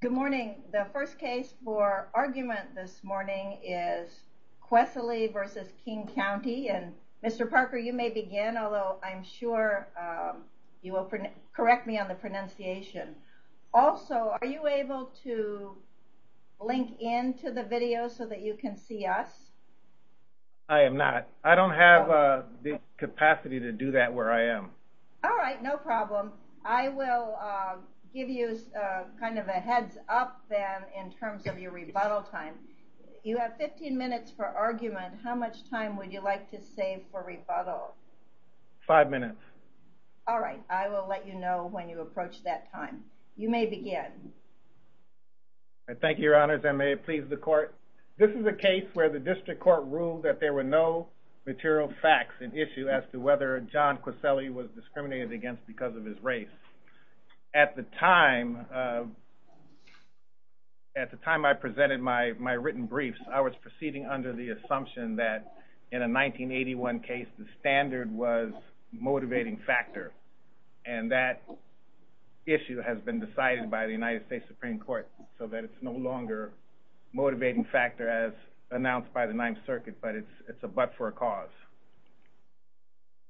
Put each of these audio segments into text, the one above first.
Good morning. The first case for argument this morning is Kwesele v. King County. Mr. Parker, you may begin, although I'm sure you will correct me on the pronunciation. Also, are you able to link into the video so that you can see us? I am not. I don't have the capacity to do that where I am. All right, no problem. I will give you kind of a heads up then in terms of your rebuttal time. You have 15 minutes for argument. How much time would you like to save for rebuttal? Five minutes. All right, I will let you know when you approach that time. You may begin. Thank you, Your Honors. I may please the court. This is a case where the district court ruled that there were no material facts and issue as to whether John Kwesele was discriminated against because of his race. At the time, at the time I presented my written briefs, I was proceeding under the assumption that in a 1981 case, the standard was motivating factor and that issue has been decided by the United States Supreme Court so that it's no longer motivating factor as announced by the Ninth Circuit. But it's it's a but for a cause.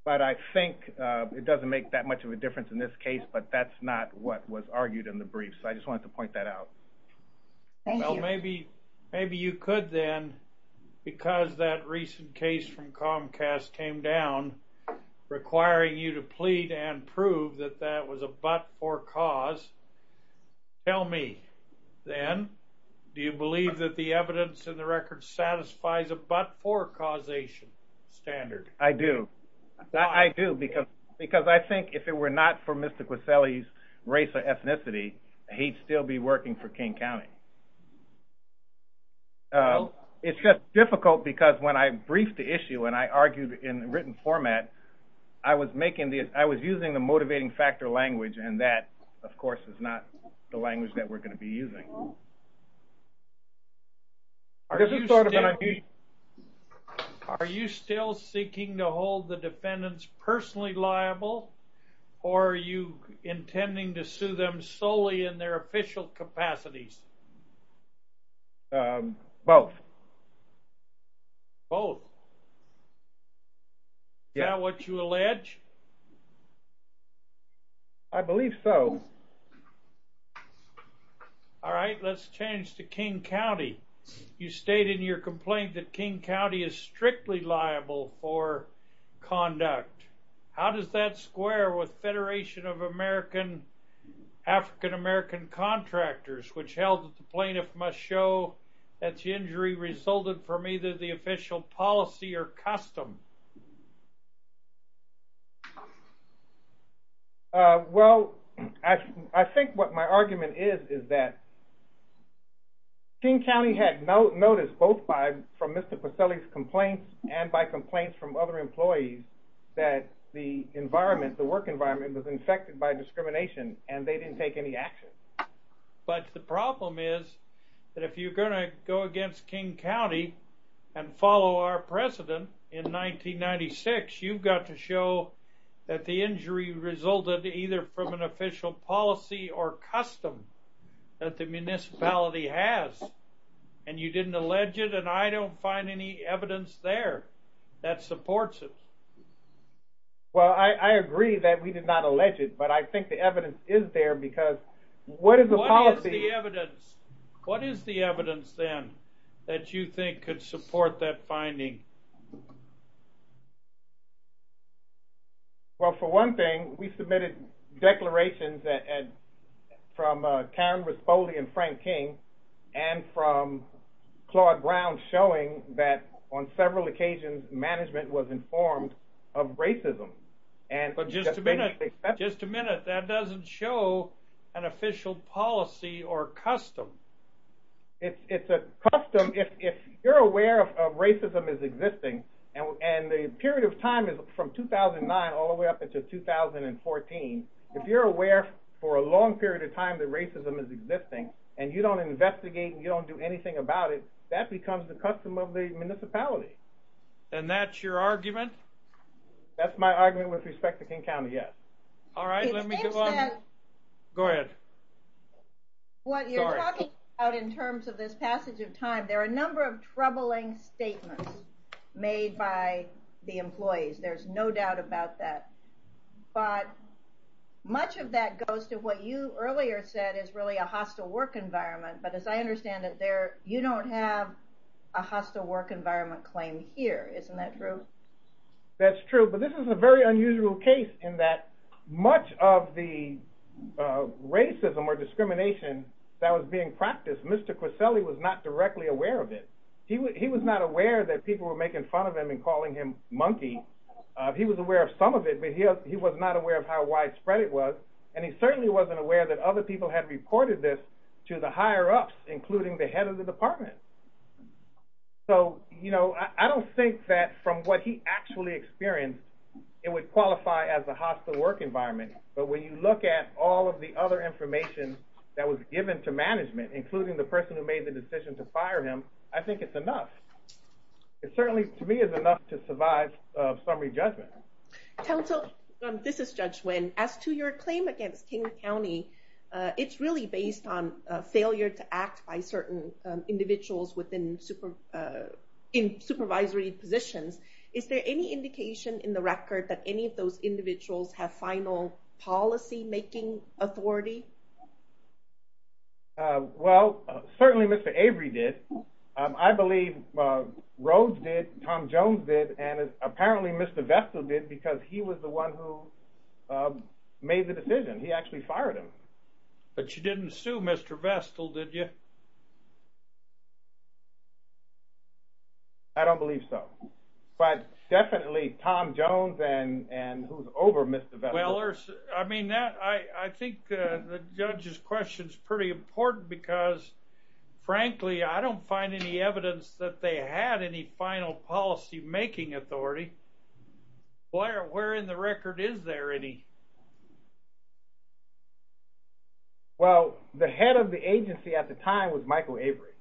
But I think it doesn't make that much of a difference in this case, but that's not what was argued in the brief. So I just wanted to point that out. Well, maybe maybe you could then because that recent case from Comcast came down requiring you to plead and prove that that was a but for cause. Tell me then, do you believe that the evidence in the record satisfies a but for causation standard? I do. I do because because I think if it were not for Mr. Kwesele's race or ethnicity, he'd still be working for King County. It's just difficult because when I briefed the issue and I argued in written format, I was making this I was using the motivating factor language and that of course is not the language that we're going to be using. Are you still seeking to hold the defendants personally liable or are you intending to sue them solely in their official capacities? Both. Both? Is that what you allege? I believe so. All right, let's change to King County. You state in your complaint that King County is strictly liable for conduct. How does that square with Federation of African-American Contractors which held that the plaintiff must show that the injury resulted from either the official policy or custom? Well, I think what my argument is is that King County had no notice both by from Mr. Kwesele's complaints and by complaints from other employees that the environment, the work environment was infected by discrimination and they didn't take any action. But the problem is that if you're going to show that the injury resulted either from an official policy or custom that the municipality has and you didn't allege it and I don't find any evidence there that supports it. Well, I agree that we did not allege it, but I think the evidence is there because what is the policy? What is the evidence? What is the evidence then that you think could support that finding? Well, for one thing, we submitted declarations from Karen Rispoli and Frank King and from Claude Brown showing that on several occasions management was informed of racism. But just a minute, just a minute. That doesn't show an official policy or custom. It's a custom if you're aware of racism is existing and the period of time is from 2009 all the way up into 2014. If you're aware for a long period of time that racism is existing and you don't investigate and you don't do anything about it, that becomes the custom of the municipality. And that's your argument? That's my argument with respect to King County, yes. All right, let me go on. Go ahead. What you're talking about in terms of this passage of time, there are a number of troubling statements made by the employees. There's no doubt about that. But much of that goes to what you earlier said is really a hostile work environment. But as I said, it's a hostile work environment claim here. Isn't that true? That's true, but this is a very unusual case in that much of the racism or discrimination that was being practiced, Mr. Coselli was not directly aware of it. He was not aware that people were making fun of him and calling him monkey. He was aware of some of it, but he was not aware of how widespread it was. And he certainly wasn't aware that other people had reported this to the higher-ups, including the head of the department. So, you know, I don't think that from what he actually experienced, it would qualify as a hostile work environment. But when you look at all of the other information that was given to management, including the person who made the decision to fire him, I think it's enough. It certainly, to me, is enough to survive summary judgment. Council, this is Judge Nguyen. As to your claim against King County, it's really based on a failure to act by certain individuals in supervisory positions. Is there any indication in the record that any of those individuals have final policy-making authority? Well, certainly Mr. Avery did. I believe Rhodes did, Tom Jones did, and fired him. But you didn't sue Mr. Vestal, did you? I don't believe so. But definitely Tom Jones and who's over Mr. Vestal. I mean, I think the judge's question is pretty important because, frankly, I don't find any evidence that they had any final policy-making authority. Boy, where in the record is there any? Well, the head of the agency at the time was Michael Avery.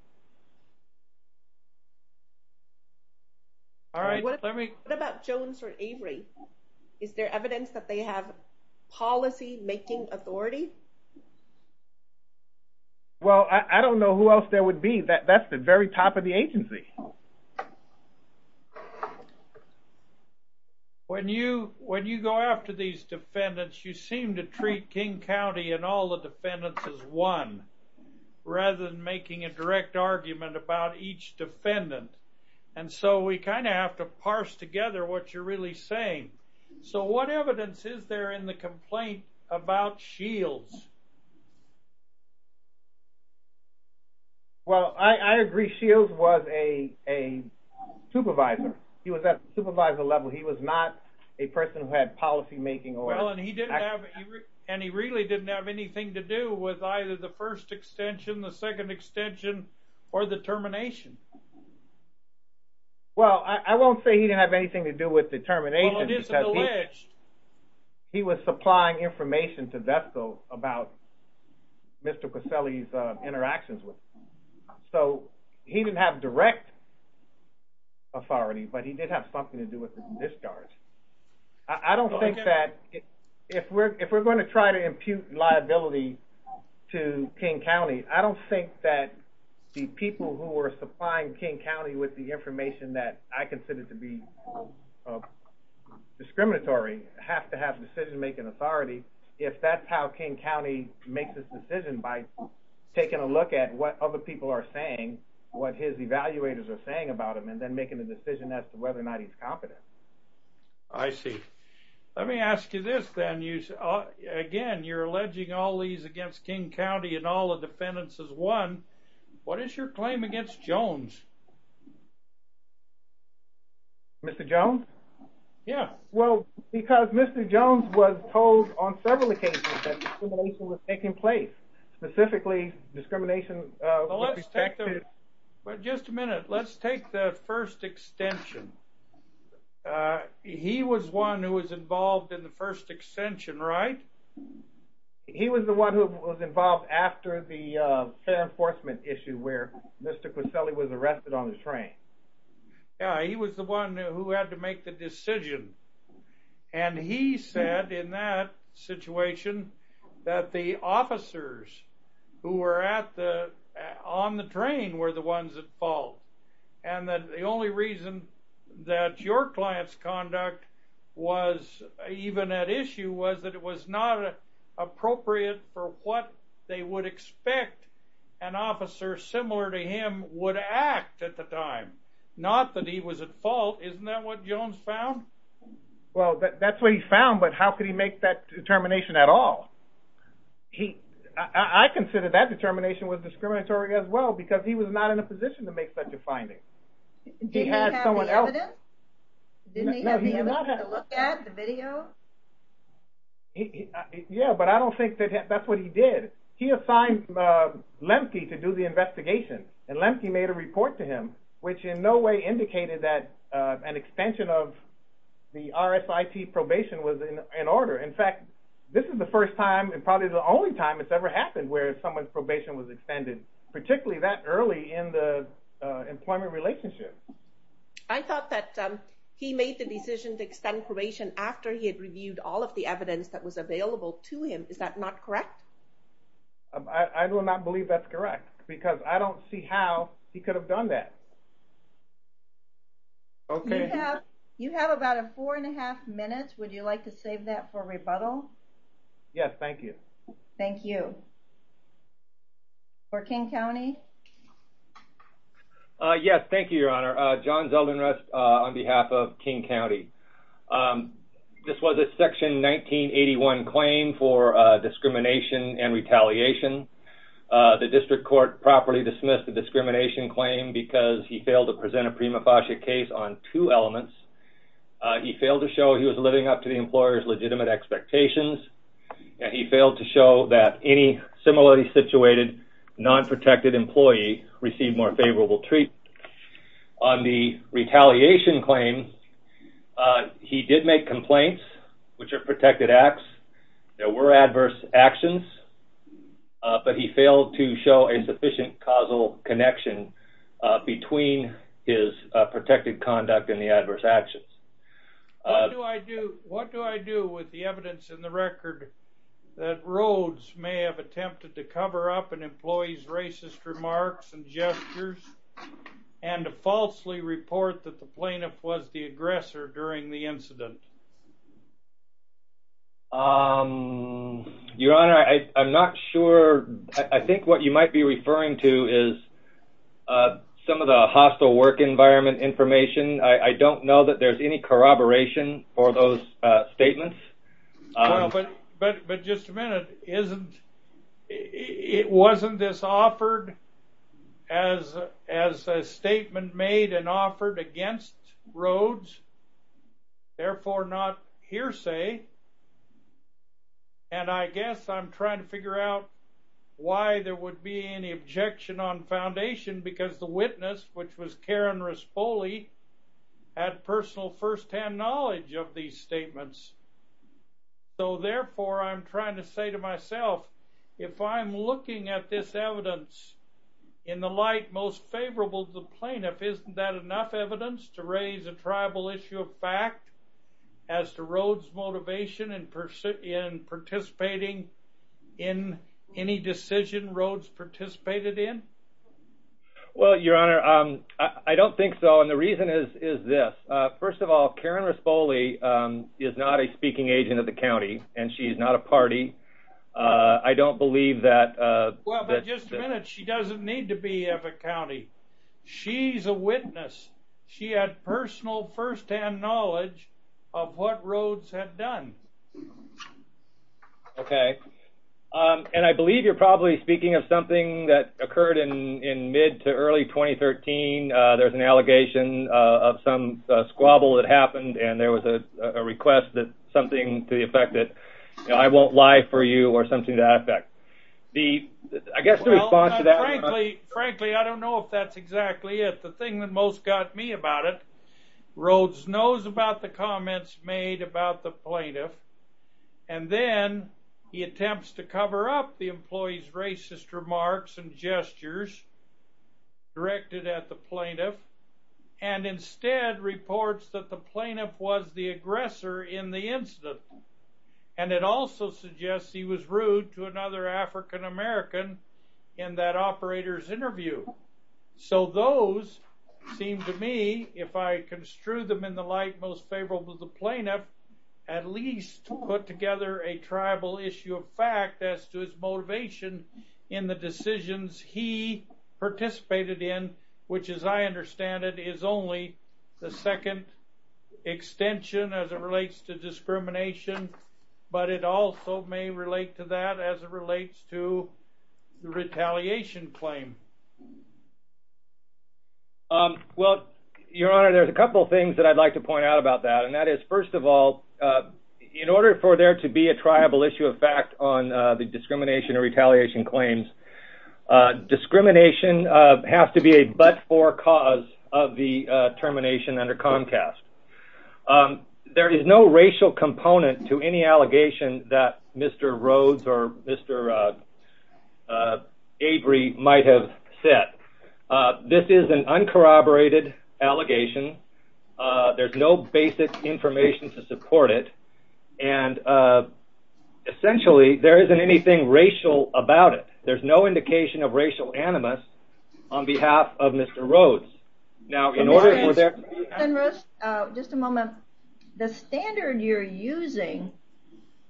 All right. What about Jones or Avery? Is there evidence that they have policy-making authority? Well, I don't know who else there would be. That's the very top of the agency. When you go after these defendants, you seem to treat King County and all the defendants as one rather than making a direct argument about each defendant. And so we kind of have to parse together what you're really saying. So what evidence is there in the complaint about Shields? Well, I agree Shields was a supervisor. He was at the supervisor level. He was not a person who had policy-making authority. Well, and he really didn't have anything to do with either the first extension, the second extension, or the termination. Well, I won't say he didn't have anything to do with the termination. Well, it isn't alleged. He was supplying information to VESCO about Mr. Caselli's interactions with him. So he didn't have direct authority, but he did have something to do with the discharge. I don't think that if we're going to try to impute liability to King County, I don't think that the people who have to have decision-making authority, if that's how King County makes this decision by taking a look at what other people are saying, what his evaluators are saying about him, and then making a decision as to whether or not he's competent. I see. Let me ask you this then. Again, you're alleging all these against King County and all the defendants as one. What is your claim against Jones? Mr. Jones? Yeah. Well, because Mr. Jones was told on several occasions that discrimination was taking place, specifically discrimination with respect to... Well, let's take the... Well, just a minute. Let's take the first extension. He was one who was involved in the first extension, right? He was the one who was involved after the fair enforcement issue where Mr. Coselli was arrested on the train. Yeah. He was the one who had to make the decision. And he said in that situation that the officers who were on the train were the ones at fault. And that the only reason that your client's conduct was even at issue was that it was not appropriate for what they would expect an officer similar to him would act at the time. Not that he was at fault. Isn't that what Jones found? Well, that's what he found, but how could he make that determination at all? I consider that determination was discriminatory as well because he was not in a position to make such a finding. He had someone else... Didn't he have the evidence to look at, the video? Yeah, but I don't think that that's what he did. He assigned Lemke to do the investigation. And Lemke made a report to him, which in no way indicated that an extension of the RSIT probation was in order. In fact, this is the first time and probably the only time it's ever happened where someone's probation was extended, particularly that early in the employment relationship. I thought that he made the decision to extend probation after he had reviewed all of the evidence that was available to him. Is that not correct? I will not believe that's correct because I don't see how he could have done that. Okay. You have about a four and a half minutes. Would you like to save that for rebuttal? Yes, thank you. Thank you. For King County? Yes, thank you, Your Honor. John Zeldin-Rust on behalf of King County. This was a Section 1981 claim for discrimination and retaliation. The district court properly dismissed the discrimination claim because he failed to present a prima facie case on two elements. He failed to show he was living up to the employer's legitimate expectations, and he failed to show that any similarly situated non-protected employee received more favorable treatment. On the retaliation claim, he did make complaints, which are protected acts. There were adverse actions, but he failed to show a sufficient causal connection between his protected conduct and the adverse actions. What do I do with the evidence in the record that Rhodes may have attempted to cover up an employee's racist remarks and gestures and to falsely report that the plaintiff was the aggressor during the incident? Your Honor, I'm not sure. I think what you might be referring to is some of the hostile work environment information. I don't know that there's any corroboration for those statements. Well, but just a minute. It wasn't this offered as a statement made and offered against Rhodes, therefore not hearsay, and I guess I'm trying to figure out why there would be any objection on foundation because the witness, which was Karen Rispoli, had personal first-hand knowledge of these statements. So therefore, I'm trying to say to myself, if I'm looking at this evidence in the light most favorable to the plaintiff, isn't that enough evidence to raise a tribal issue of fact as to Rhodes' motivation in participating in any decision Rhodes participated in? Well, Your Honor, I don't think so, and the reason is this. First of all, Karen Rispoli is not a speaking agent of the county, and she's not a party. I don't believe that... Well, but just a minute. She doesn't need to be of a county. She's a witness. She had personal first-hand knowledge of what Rhodes had done. Okay, and I believe you're probably speaking of something that occurred in mid to early 2013. There's an allegation of some squabble that happened, and there was a request that something to the effect that, you know, I won't lie for you or something to that effect. I guess the response to that... Frankly, I don't know if that's exactly it. The thing that most got me about it, Rhodes knows about the comments made about the plaintiff, and then he attempts to cover up the employee's complaint with the plaintiff, and instead reports that the plaintiff was the aggressor in the incident, and it also suggests he was rude to another African-American in that operator's interview. So those seem to me, if I construe them in the light most favorable to the plaintiff, at least put together a tribal issue of fact as to his motivation in the decisions he participated in, which, as I understand it, is only the second extension as it relates to discrimination, but it also may relate to that as it relates to the retaliation claim. Well, Your Honor, there's a couple things that I'd like to point out about that, and that is, first of all, in order for there to be a tribal issue of fact on the discrimination or retaliation claims, discrimination has to be a but-for cause of the termination under Comcast. There is no racial component to any allegation that Mr. Rhodes or Mr. Avery might have set. This is an uncorroborated allegation. There's no basic information to indication of racial animus on behalf of Mr. Rhodes. Now, in order for there... Just a moment. The standard you're using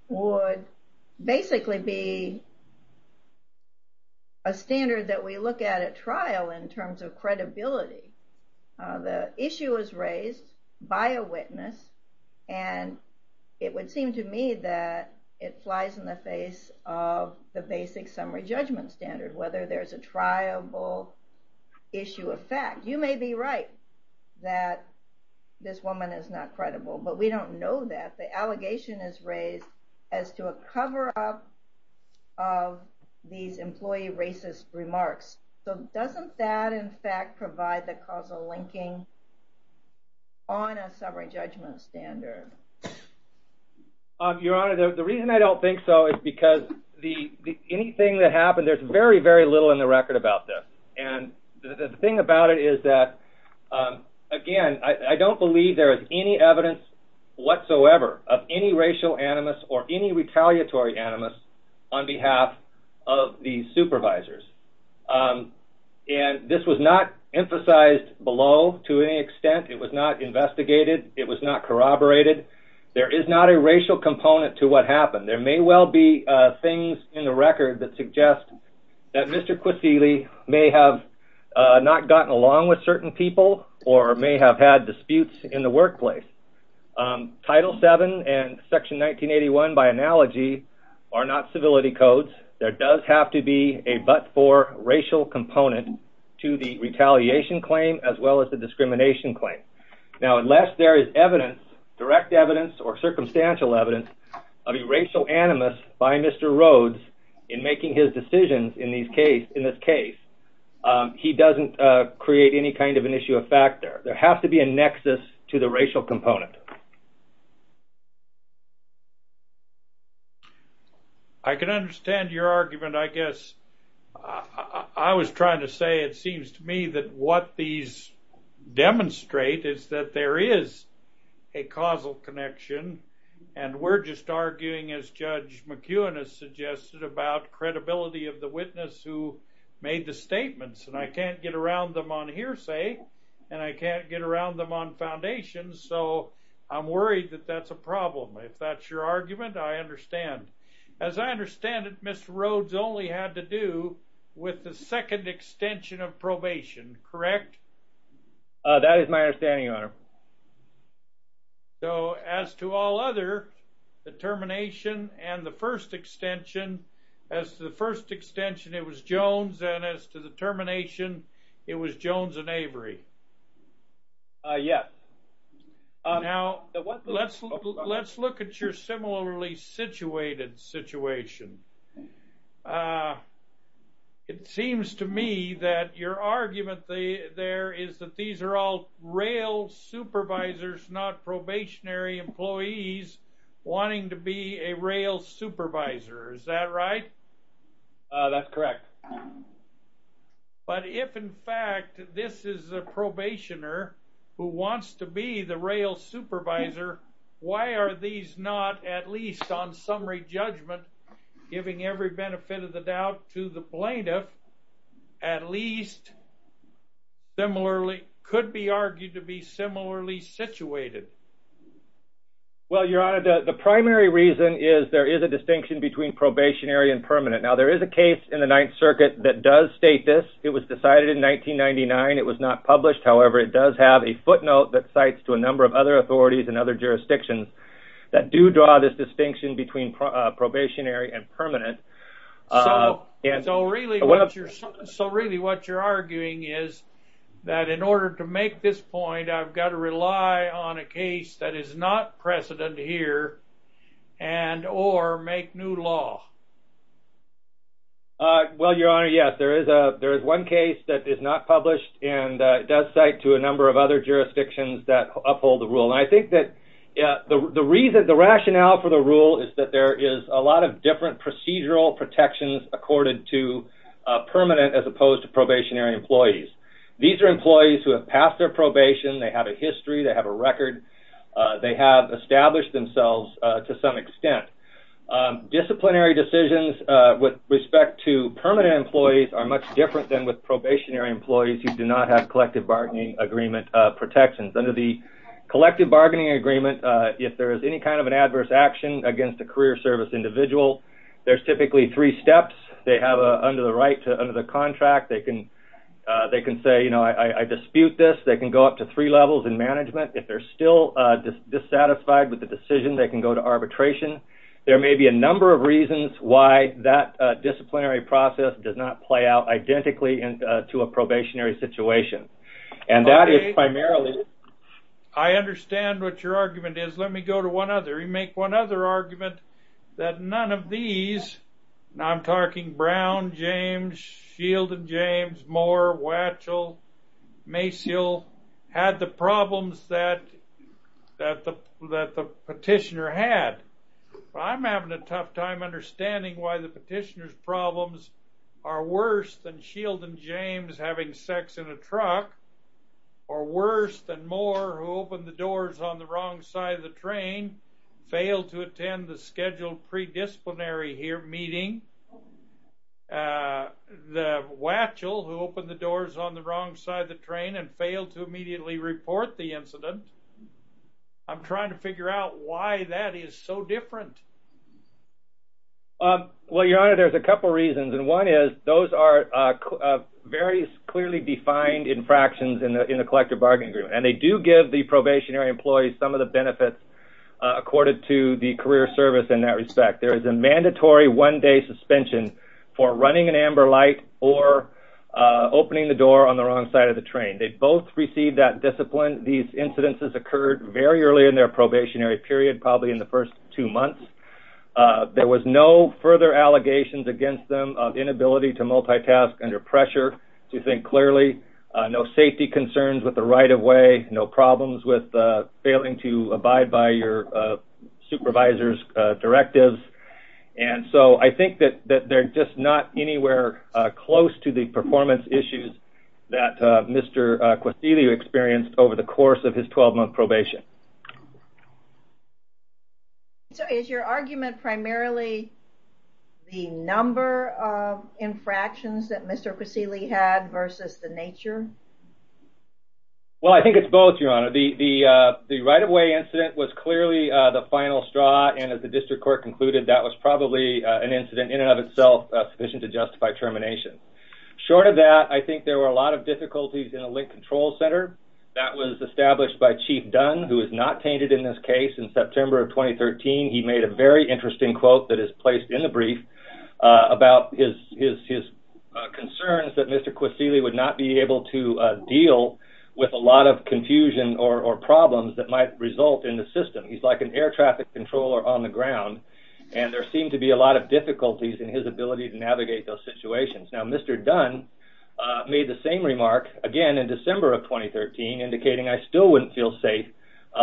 would basically be a standard that we look at at trial in terms of credibility. The issue was raised by a witness, and it would seem to me that it flies in the face of the basic summary judgment standard, whether there's a tribal issue of fact. You may be right that this woman is not credible, but we don't know that. The allegation is raised as to a cover-up of these employee racist remarks. Doesn't that, in fact, provide the causal linking on a summary judgment standard? Your Honor, the reason I don't think so is because anything that happened, there's very, very little in the record about this. The thing about it is that, again, I don't believe there is any evidence whatsoever of any racial animus or any retaliatory animus on behalf of the supervisors. And this was not emphasized below to any extent. It was not investigated. It was not corroborated. There is not a racial component to what happened. There may well be things in the record that suggest that Mr. Kwesele may have not gotten along with certain people or may have had disputes in the workplace. Title VII and Section 1981, by analogy, are not civility codes. There does have to be a but-for racial component to the retaliation claim as well as the discrimination claim. Now, unless there is evidence, direct evidence or circumstantial evidence, of a racial animus by Mr. Rhodes in making his decisions in this case, he doesn't create any kind of an issue of fact there. There has to be a nexus to the racial component. I can understand your argument, I guess. I was trying to say, it seems to me, that what these demonstrate is that there is a causal connection. And we're just arguing, as Judge McEwen has suggested, about credibility of the witness who made the statements. And I can't get around them on hearsay, and I can't get around them on foundations. So, you know, I don't think there's a causal connection. I'm worried that that's a problem. If that's your argument, I understand. As I understand it, Mr. Rhodes only had to do with the second extension of probation, correct? That is my understanding, Your Honor. So, as to all other, the termination and the first extension, as to the first extension, it was Jones. And as to the termination, it was Jones and Avery. Yes. Now, let's look at your similarly situated situation. It seems to me that your argument there is that these are all rail supervisors, not probationary employees, wanting to be a rail supervisor. Is that right? That's correct. But if, in fact, this is a probationer who wants to be the rail supervisor, why are these not, at least on summary judgment, giving every benefit of the doubt to the plaintiff, at least similarly, could be argued to be similarly situated? Well, Your Honor, the primary reason is there is a distinction between probationary and permanent. Now, there is a case in the Ninth Circuit that does state this. It was decided in 1999. It was not published. However, it does have a footnote that cites to a number of other authorities and other jurisdictions that do draw this distinction between probationary and permanent. So, really, what you're arguing is that in order to make this point, I've got to rely on a case that is not precedent here and or make new law. Well, Your Honor, yes. There is one case that is not published, and it does cite to a number of other jurisdictions that uphold the rule. And I think that the rationale for the rule is that there is a lot of different procedural protections accorded to permanent as opposed to probationary employees. These are employees who have passed their probation. They have a history. They have a record. They have established themselves to some extent. Disciplinary decisions with respect to permanent employees are much different than with probationary employees who do not have collective bargaining agreement protections. Under the collective bargaining agreement, if there is any kind of an adverse action against a career service individual, there's typically three steps they have under the contract. They can say, you know, I dispute this. They can go up to three levels in management. If they're still dissatisfied with the decision, they can go to arbitration. There may be a number of reasons why that disciplinary process does not go to one another. You make one other argument that none of these, and I'm talking Brown, James, Shield and James, Moore, Watchell, Maciel, had the problems that the petitioner had. I'm having a tough time understanding why the petitioner's problems are worse than Shield and Moore. The petitioner who opened the doors on the wrong side of the train failed to attend the scheduled predisciplinary meeting. The Watchell who opened the doors on the wrong side of the train and failed to immediately report the incident. I'm trying to figure out why that is so different. Well, your honor, there's a couple reasons, and one is those are very clearly defined infractions in the collective bargaining agreement, and they do give the probationary employees some of the benefits accorded to the career service in that respect. There is a mandatory one-day suspension for running an amber light or opening the door on the wrong side of the train. They both received that discipline. These incidences occurred very early in their probationary period, probably in the first two months. There was no further allegations against them of inability to the right-of-way, no problems with failing to abide by your supervisor's directives, and so I think that they're just not anywhere close to the performance issues that Mr. Quisigliu experienced over the course of his 12-month probation. So is your argument primarily the number of infractions that Mr. Quisigliu had versus the Well, I think it's both, your honor. The right-of-way incident was clearly the final straw, and as the district court concluded, that was probably an incident in and of itself sufficient to justify termination. Short of that, I think there were a lot of difficulties in the link control center. That was established by Chief Dunn, who is not tainted in this case. In September of 2013, he made a very interesting quote that is placed in the brief about his concerns that Mr. Quisigliu would not be able to deal with a lot of confusion or problems that might result in the system. He's like an air traffic controller on the ground, and there seemed to be a lot of difficulties in his ability to navigate those situations. Now, Mr. Dunn made the same remark again in December of 2013, indicating I still wouldn't feel safe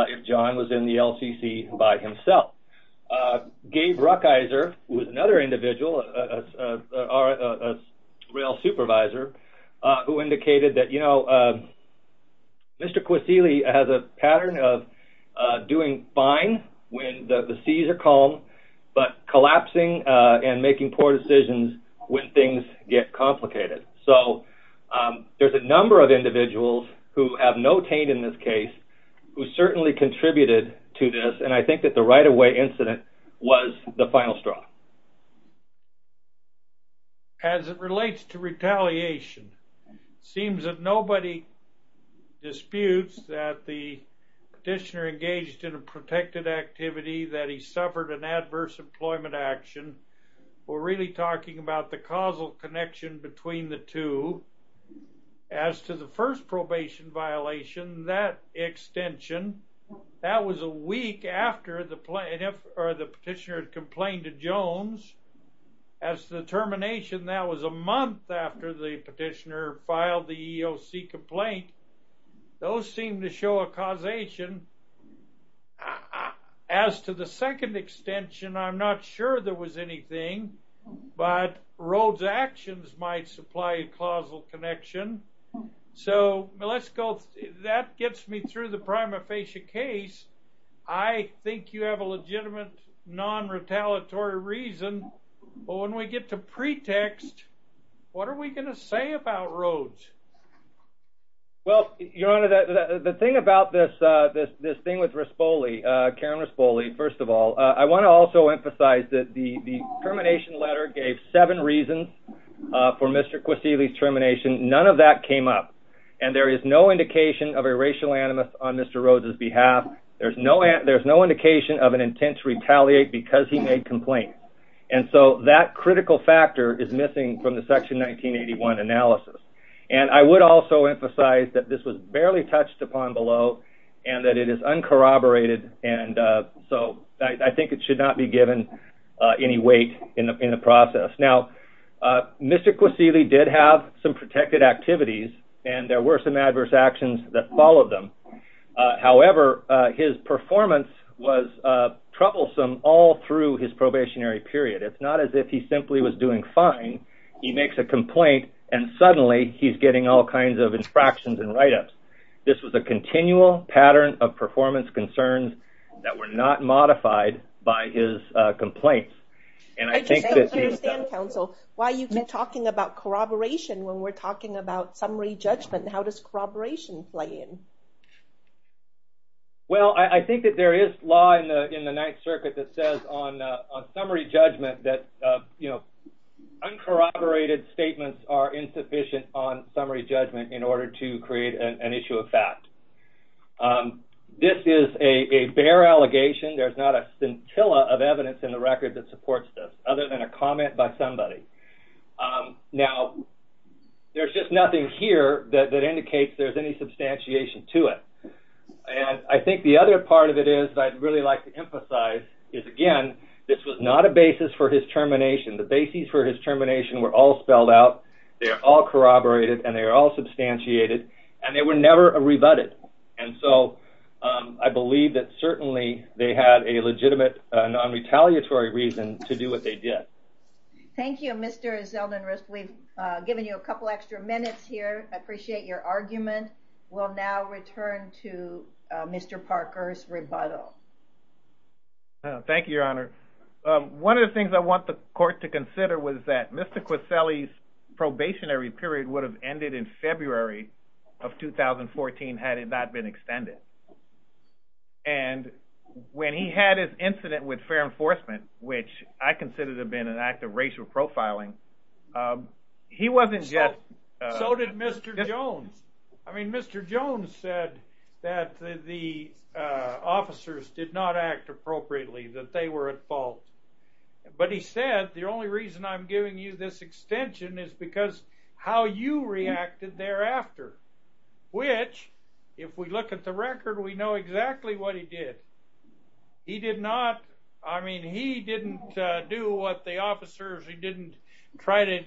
if John was in the LCC by himself. Gabe Rukeyser, who is another individual, rail supervisor, who indicated that Mr. Quisigliu has a pattern of doing fine when the seas are calm, but collapsing and making poor decisions when things get complicated. So there's a number of individuals who have no taint in this case who certainly contributed to this, and I think that the right-of-way incident was the final straw. As it relates to retaliation, it seems that nobody disputes that the petitioner engaged in a protected activity, that he suffered an adverse employment action. We're really talking about the causal connection between the two. As to the first probation violation, that extension, that was a week after the petitioner had complained to Jones. As to the termination, that was a month after the petitioner filed the EEOC complaint. Those seem to show a causation. As to the second extension, I'm not sure there was anything, but Rhoades' actions might supply a causal connection. So that gets me through the prima facie case. I think you have a legitimate non-retaliatory reason, but when we get to pretext, what are we going to say about Rhoades? Well, Your Honor, the thing about this thing with Rispoli, Karen Rispoli, first of all, I want to also emphasize that the termination letter gave seven reasons for Mr. Quasili's termination. None of that came up, and there is no indication of a racial animus on Mr. Rhoades' behalf. There's no indication of an intent to retaliate because he made complaints. And so that critical factor is missing from the Section 1981 analysis. And I would also emphasize that this was barely touched upon below and that it is uncorroborated, and so I think it should not be given any weight in the process. Now, Mr. Quasili did have some protected activities, and there were some adverse actions that followed them. However, his performance was troublesome all through his doing fine, he makes a complaint, and suddenly he's getting all kinds of infractions and write-ups. This was a continual pattern of performance concerns that were not modified by his complaints. I just don't understand, counsel, why you keep talking about corroboration when we're talking about summary judgment. How does corroboration play in? Well, I think that there is law in the Ninth Circuit that says on summary judgment that, you know, uncorroborated statements are insufficient on summary judgment in order to create an issue of fact. This is a bare allegation. There's not a scintilla of evidence in the record that supports this other than a comment by somebody. Now, there's just nothing here that indicates there's any substantiation to it. And I think the other part of it is that I'd really like to emphasize is, again, this was not a basis for his termination. The bases for his termination were all spelled out, they are all corroborated, and they are all substantiated, and they were never rebutted. And so I believe that certainly they had a legitimate non-retaliatory reason to do what they did. Thank you, Mr. Zeldin-Risp. We've given you a couple extra minutes here. I appreciate your argument. We'll now return to Mr. Parker's rebuttal. Thank you, Your Honor. One of the things I want the court to consider was that Mr. Queselli's probationary period would have ended in February of 2014 had it not been extended. And when he had his incident with fair enforcement, which I consider to have been an act of racial profiling, he wasn't yet... So did Mr. Jones. I mean, Mr. Jones said that the officers did not act appropriately, that they were at fault. But he said, the only reason I'm giving you this extension is because how you reacted thereafter, which, if we look at the record, we know exactly what he did. He did not... I mean, he didn't do what the officers... He didn't try to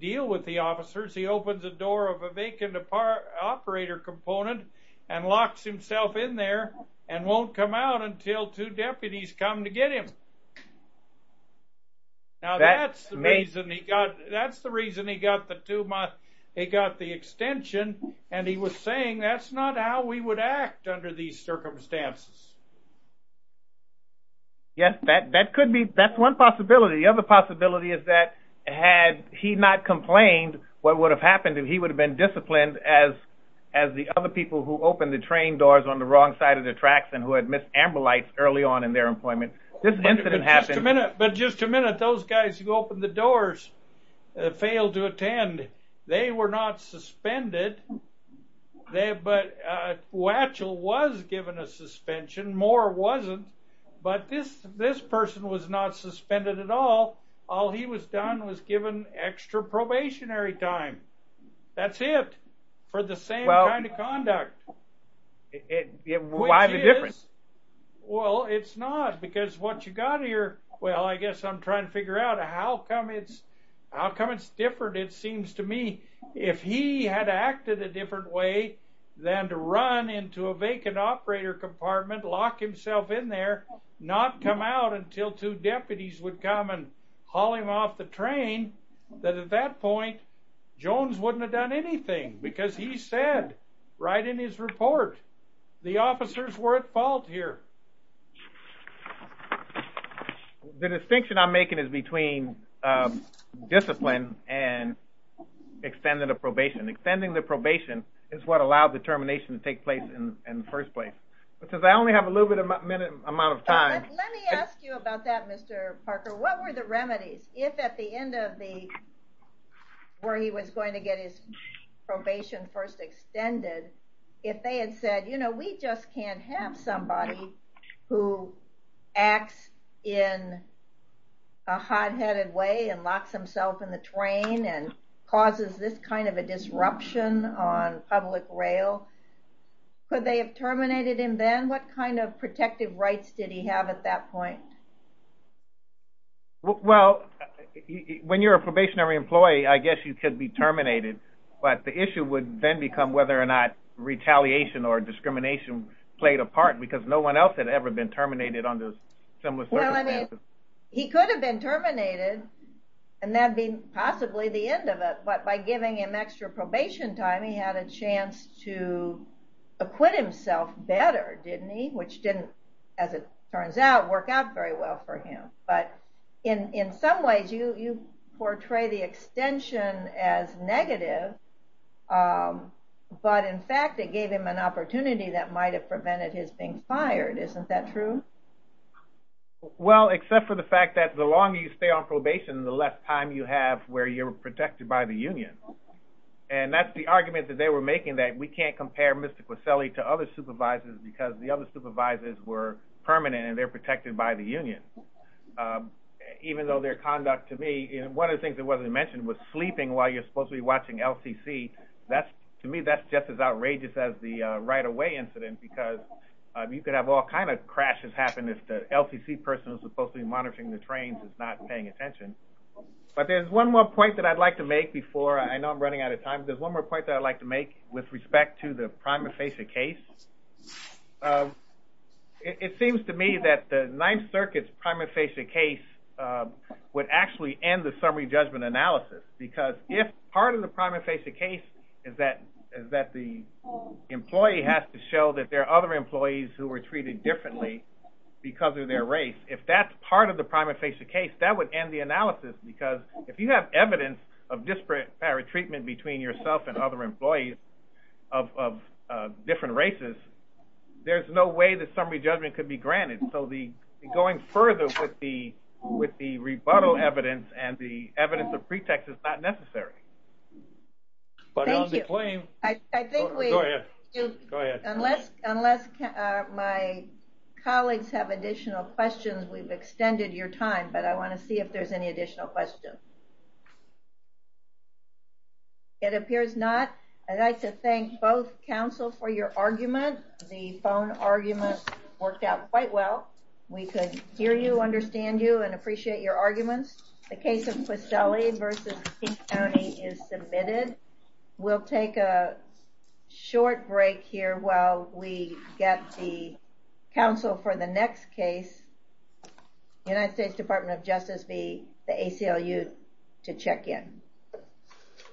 deal with the officers. He opens the door of a vacant operator component and locks himself in there and won't come out until two deputies come to get him. Now that's the reason he got... That's the reason he got the two-month... He got the extension, and he was saying that's not how we would act under these circumstances. Yes, that could be... That's one possibility. The other possibility is that had he not complained, what would have happened, he would have been disciplined as the other people who opened the train doors on the wrong side of the tracks and who had missed amber lights early on in their employment. This incident happened... But just a minute, those guys who opened the doors failed to attend. They were not suspended, but Wachell was given a suspension. Moore wasn't, but this person was not suspended at all. All he was done was given extra probationary time. That's it for the same kind of conduct. Why the difference? Well, it's not because what you got here... Well, I guess I'm trying to figure out how come it's... How come it's different? It seems to me if he had acted a different way than to run into a vacant operator compartment, lock himself in there, not come out until two deputies would come and haul him off the train, that at that point Jones wouldn't have done anything because he said right in his report, the officers were at fault here. The distinction I'm making is between discipline and extended probation. Extending the probation is what allowed the termination to take place in the first place. But since I only have a little bit of minute amount of time... Let me ask you about that, Mr. Parker. What were the remedies? If at the end of the... Where he was going to get his probation first extended, if they had said, we just can't have somebody who acts in a hot-headed way and locks himself in the train and causes this kind of a disruption on public rail, could they have terminated him then? What kind of protective rights did he have at that point? Well, when you're a probationary employee, I guess you could be terminated, but the issue would then become whether or not played a part because no one else had ever been terminated under similar circumstances. He could have been terminated and that'd be possibly the end of it, but by giving him extra probation time, he had a chance to acquit himself better, didn't he? Which didn't, as it turns out, work out very well for him. But in some ways you portray the extension as negative, but in fact, it gave him an opportunity that might have prevented his being fired. Isn't that true? Well, except for the fact that the longer you stay on probation, the less time you have where you're protected by the union. And that's the argument that they were making that we can't compare Mr. Queselli to other supervisors because the other supervisors were permanent and they're protected by the union. Even though their conduct to me... One of the mentioned was sleeping while you're supposed to be watching LCC. To me, that's just as outrageous as the right-of-way incident because you could have all kinds of crashes happen if the LCC person who's supposed to be monitoring the trains is not paying attention. But there's one more point that I'd like to make before... I know I'm running out of time. There's one more point that I'd like to make with respect to the prima facie case. It seems to me that the Ninth Circuit's summary judgment analysis, because if part of the prima facie case is that the employee has to show that there are other employees who were treated differently because of their race. If that's part of the prima facie case, that would end the analysis because if you have evidence of disparate treatment between yourself and other employees of different races, there's no way that summary evidence and the evidence of pretext is not necessary. Thank you. Go ahead. Unless my colleagues have additional questions, we've extended your time, but I want to see if there's any additional questions. It appears not. I'd like to thank both counsel for your argument. The phone argument worked out quite well. We could hear you, understand you, and appreciate your arguments. The case of Questelli versus King County is submitted. We'll take a short break here while we get the counsel for the next case, United States Department of Justice v. the ACLU to check in.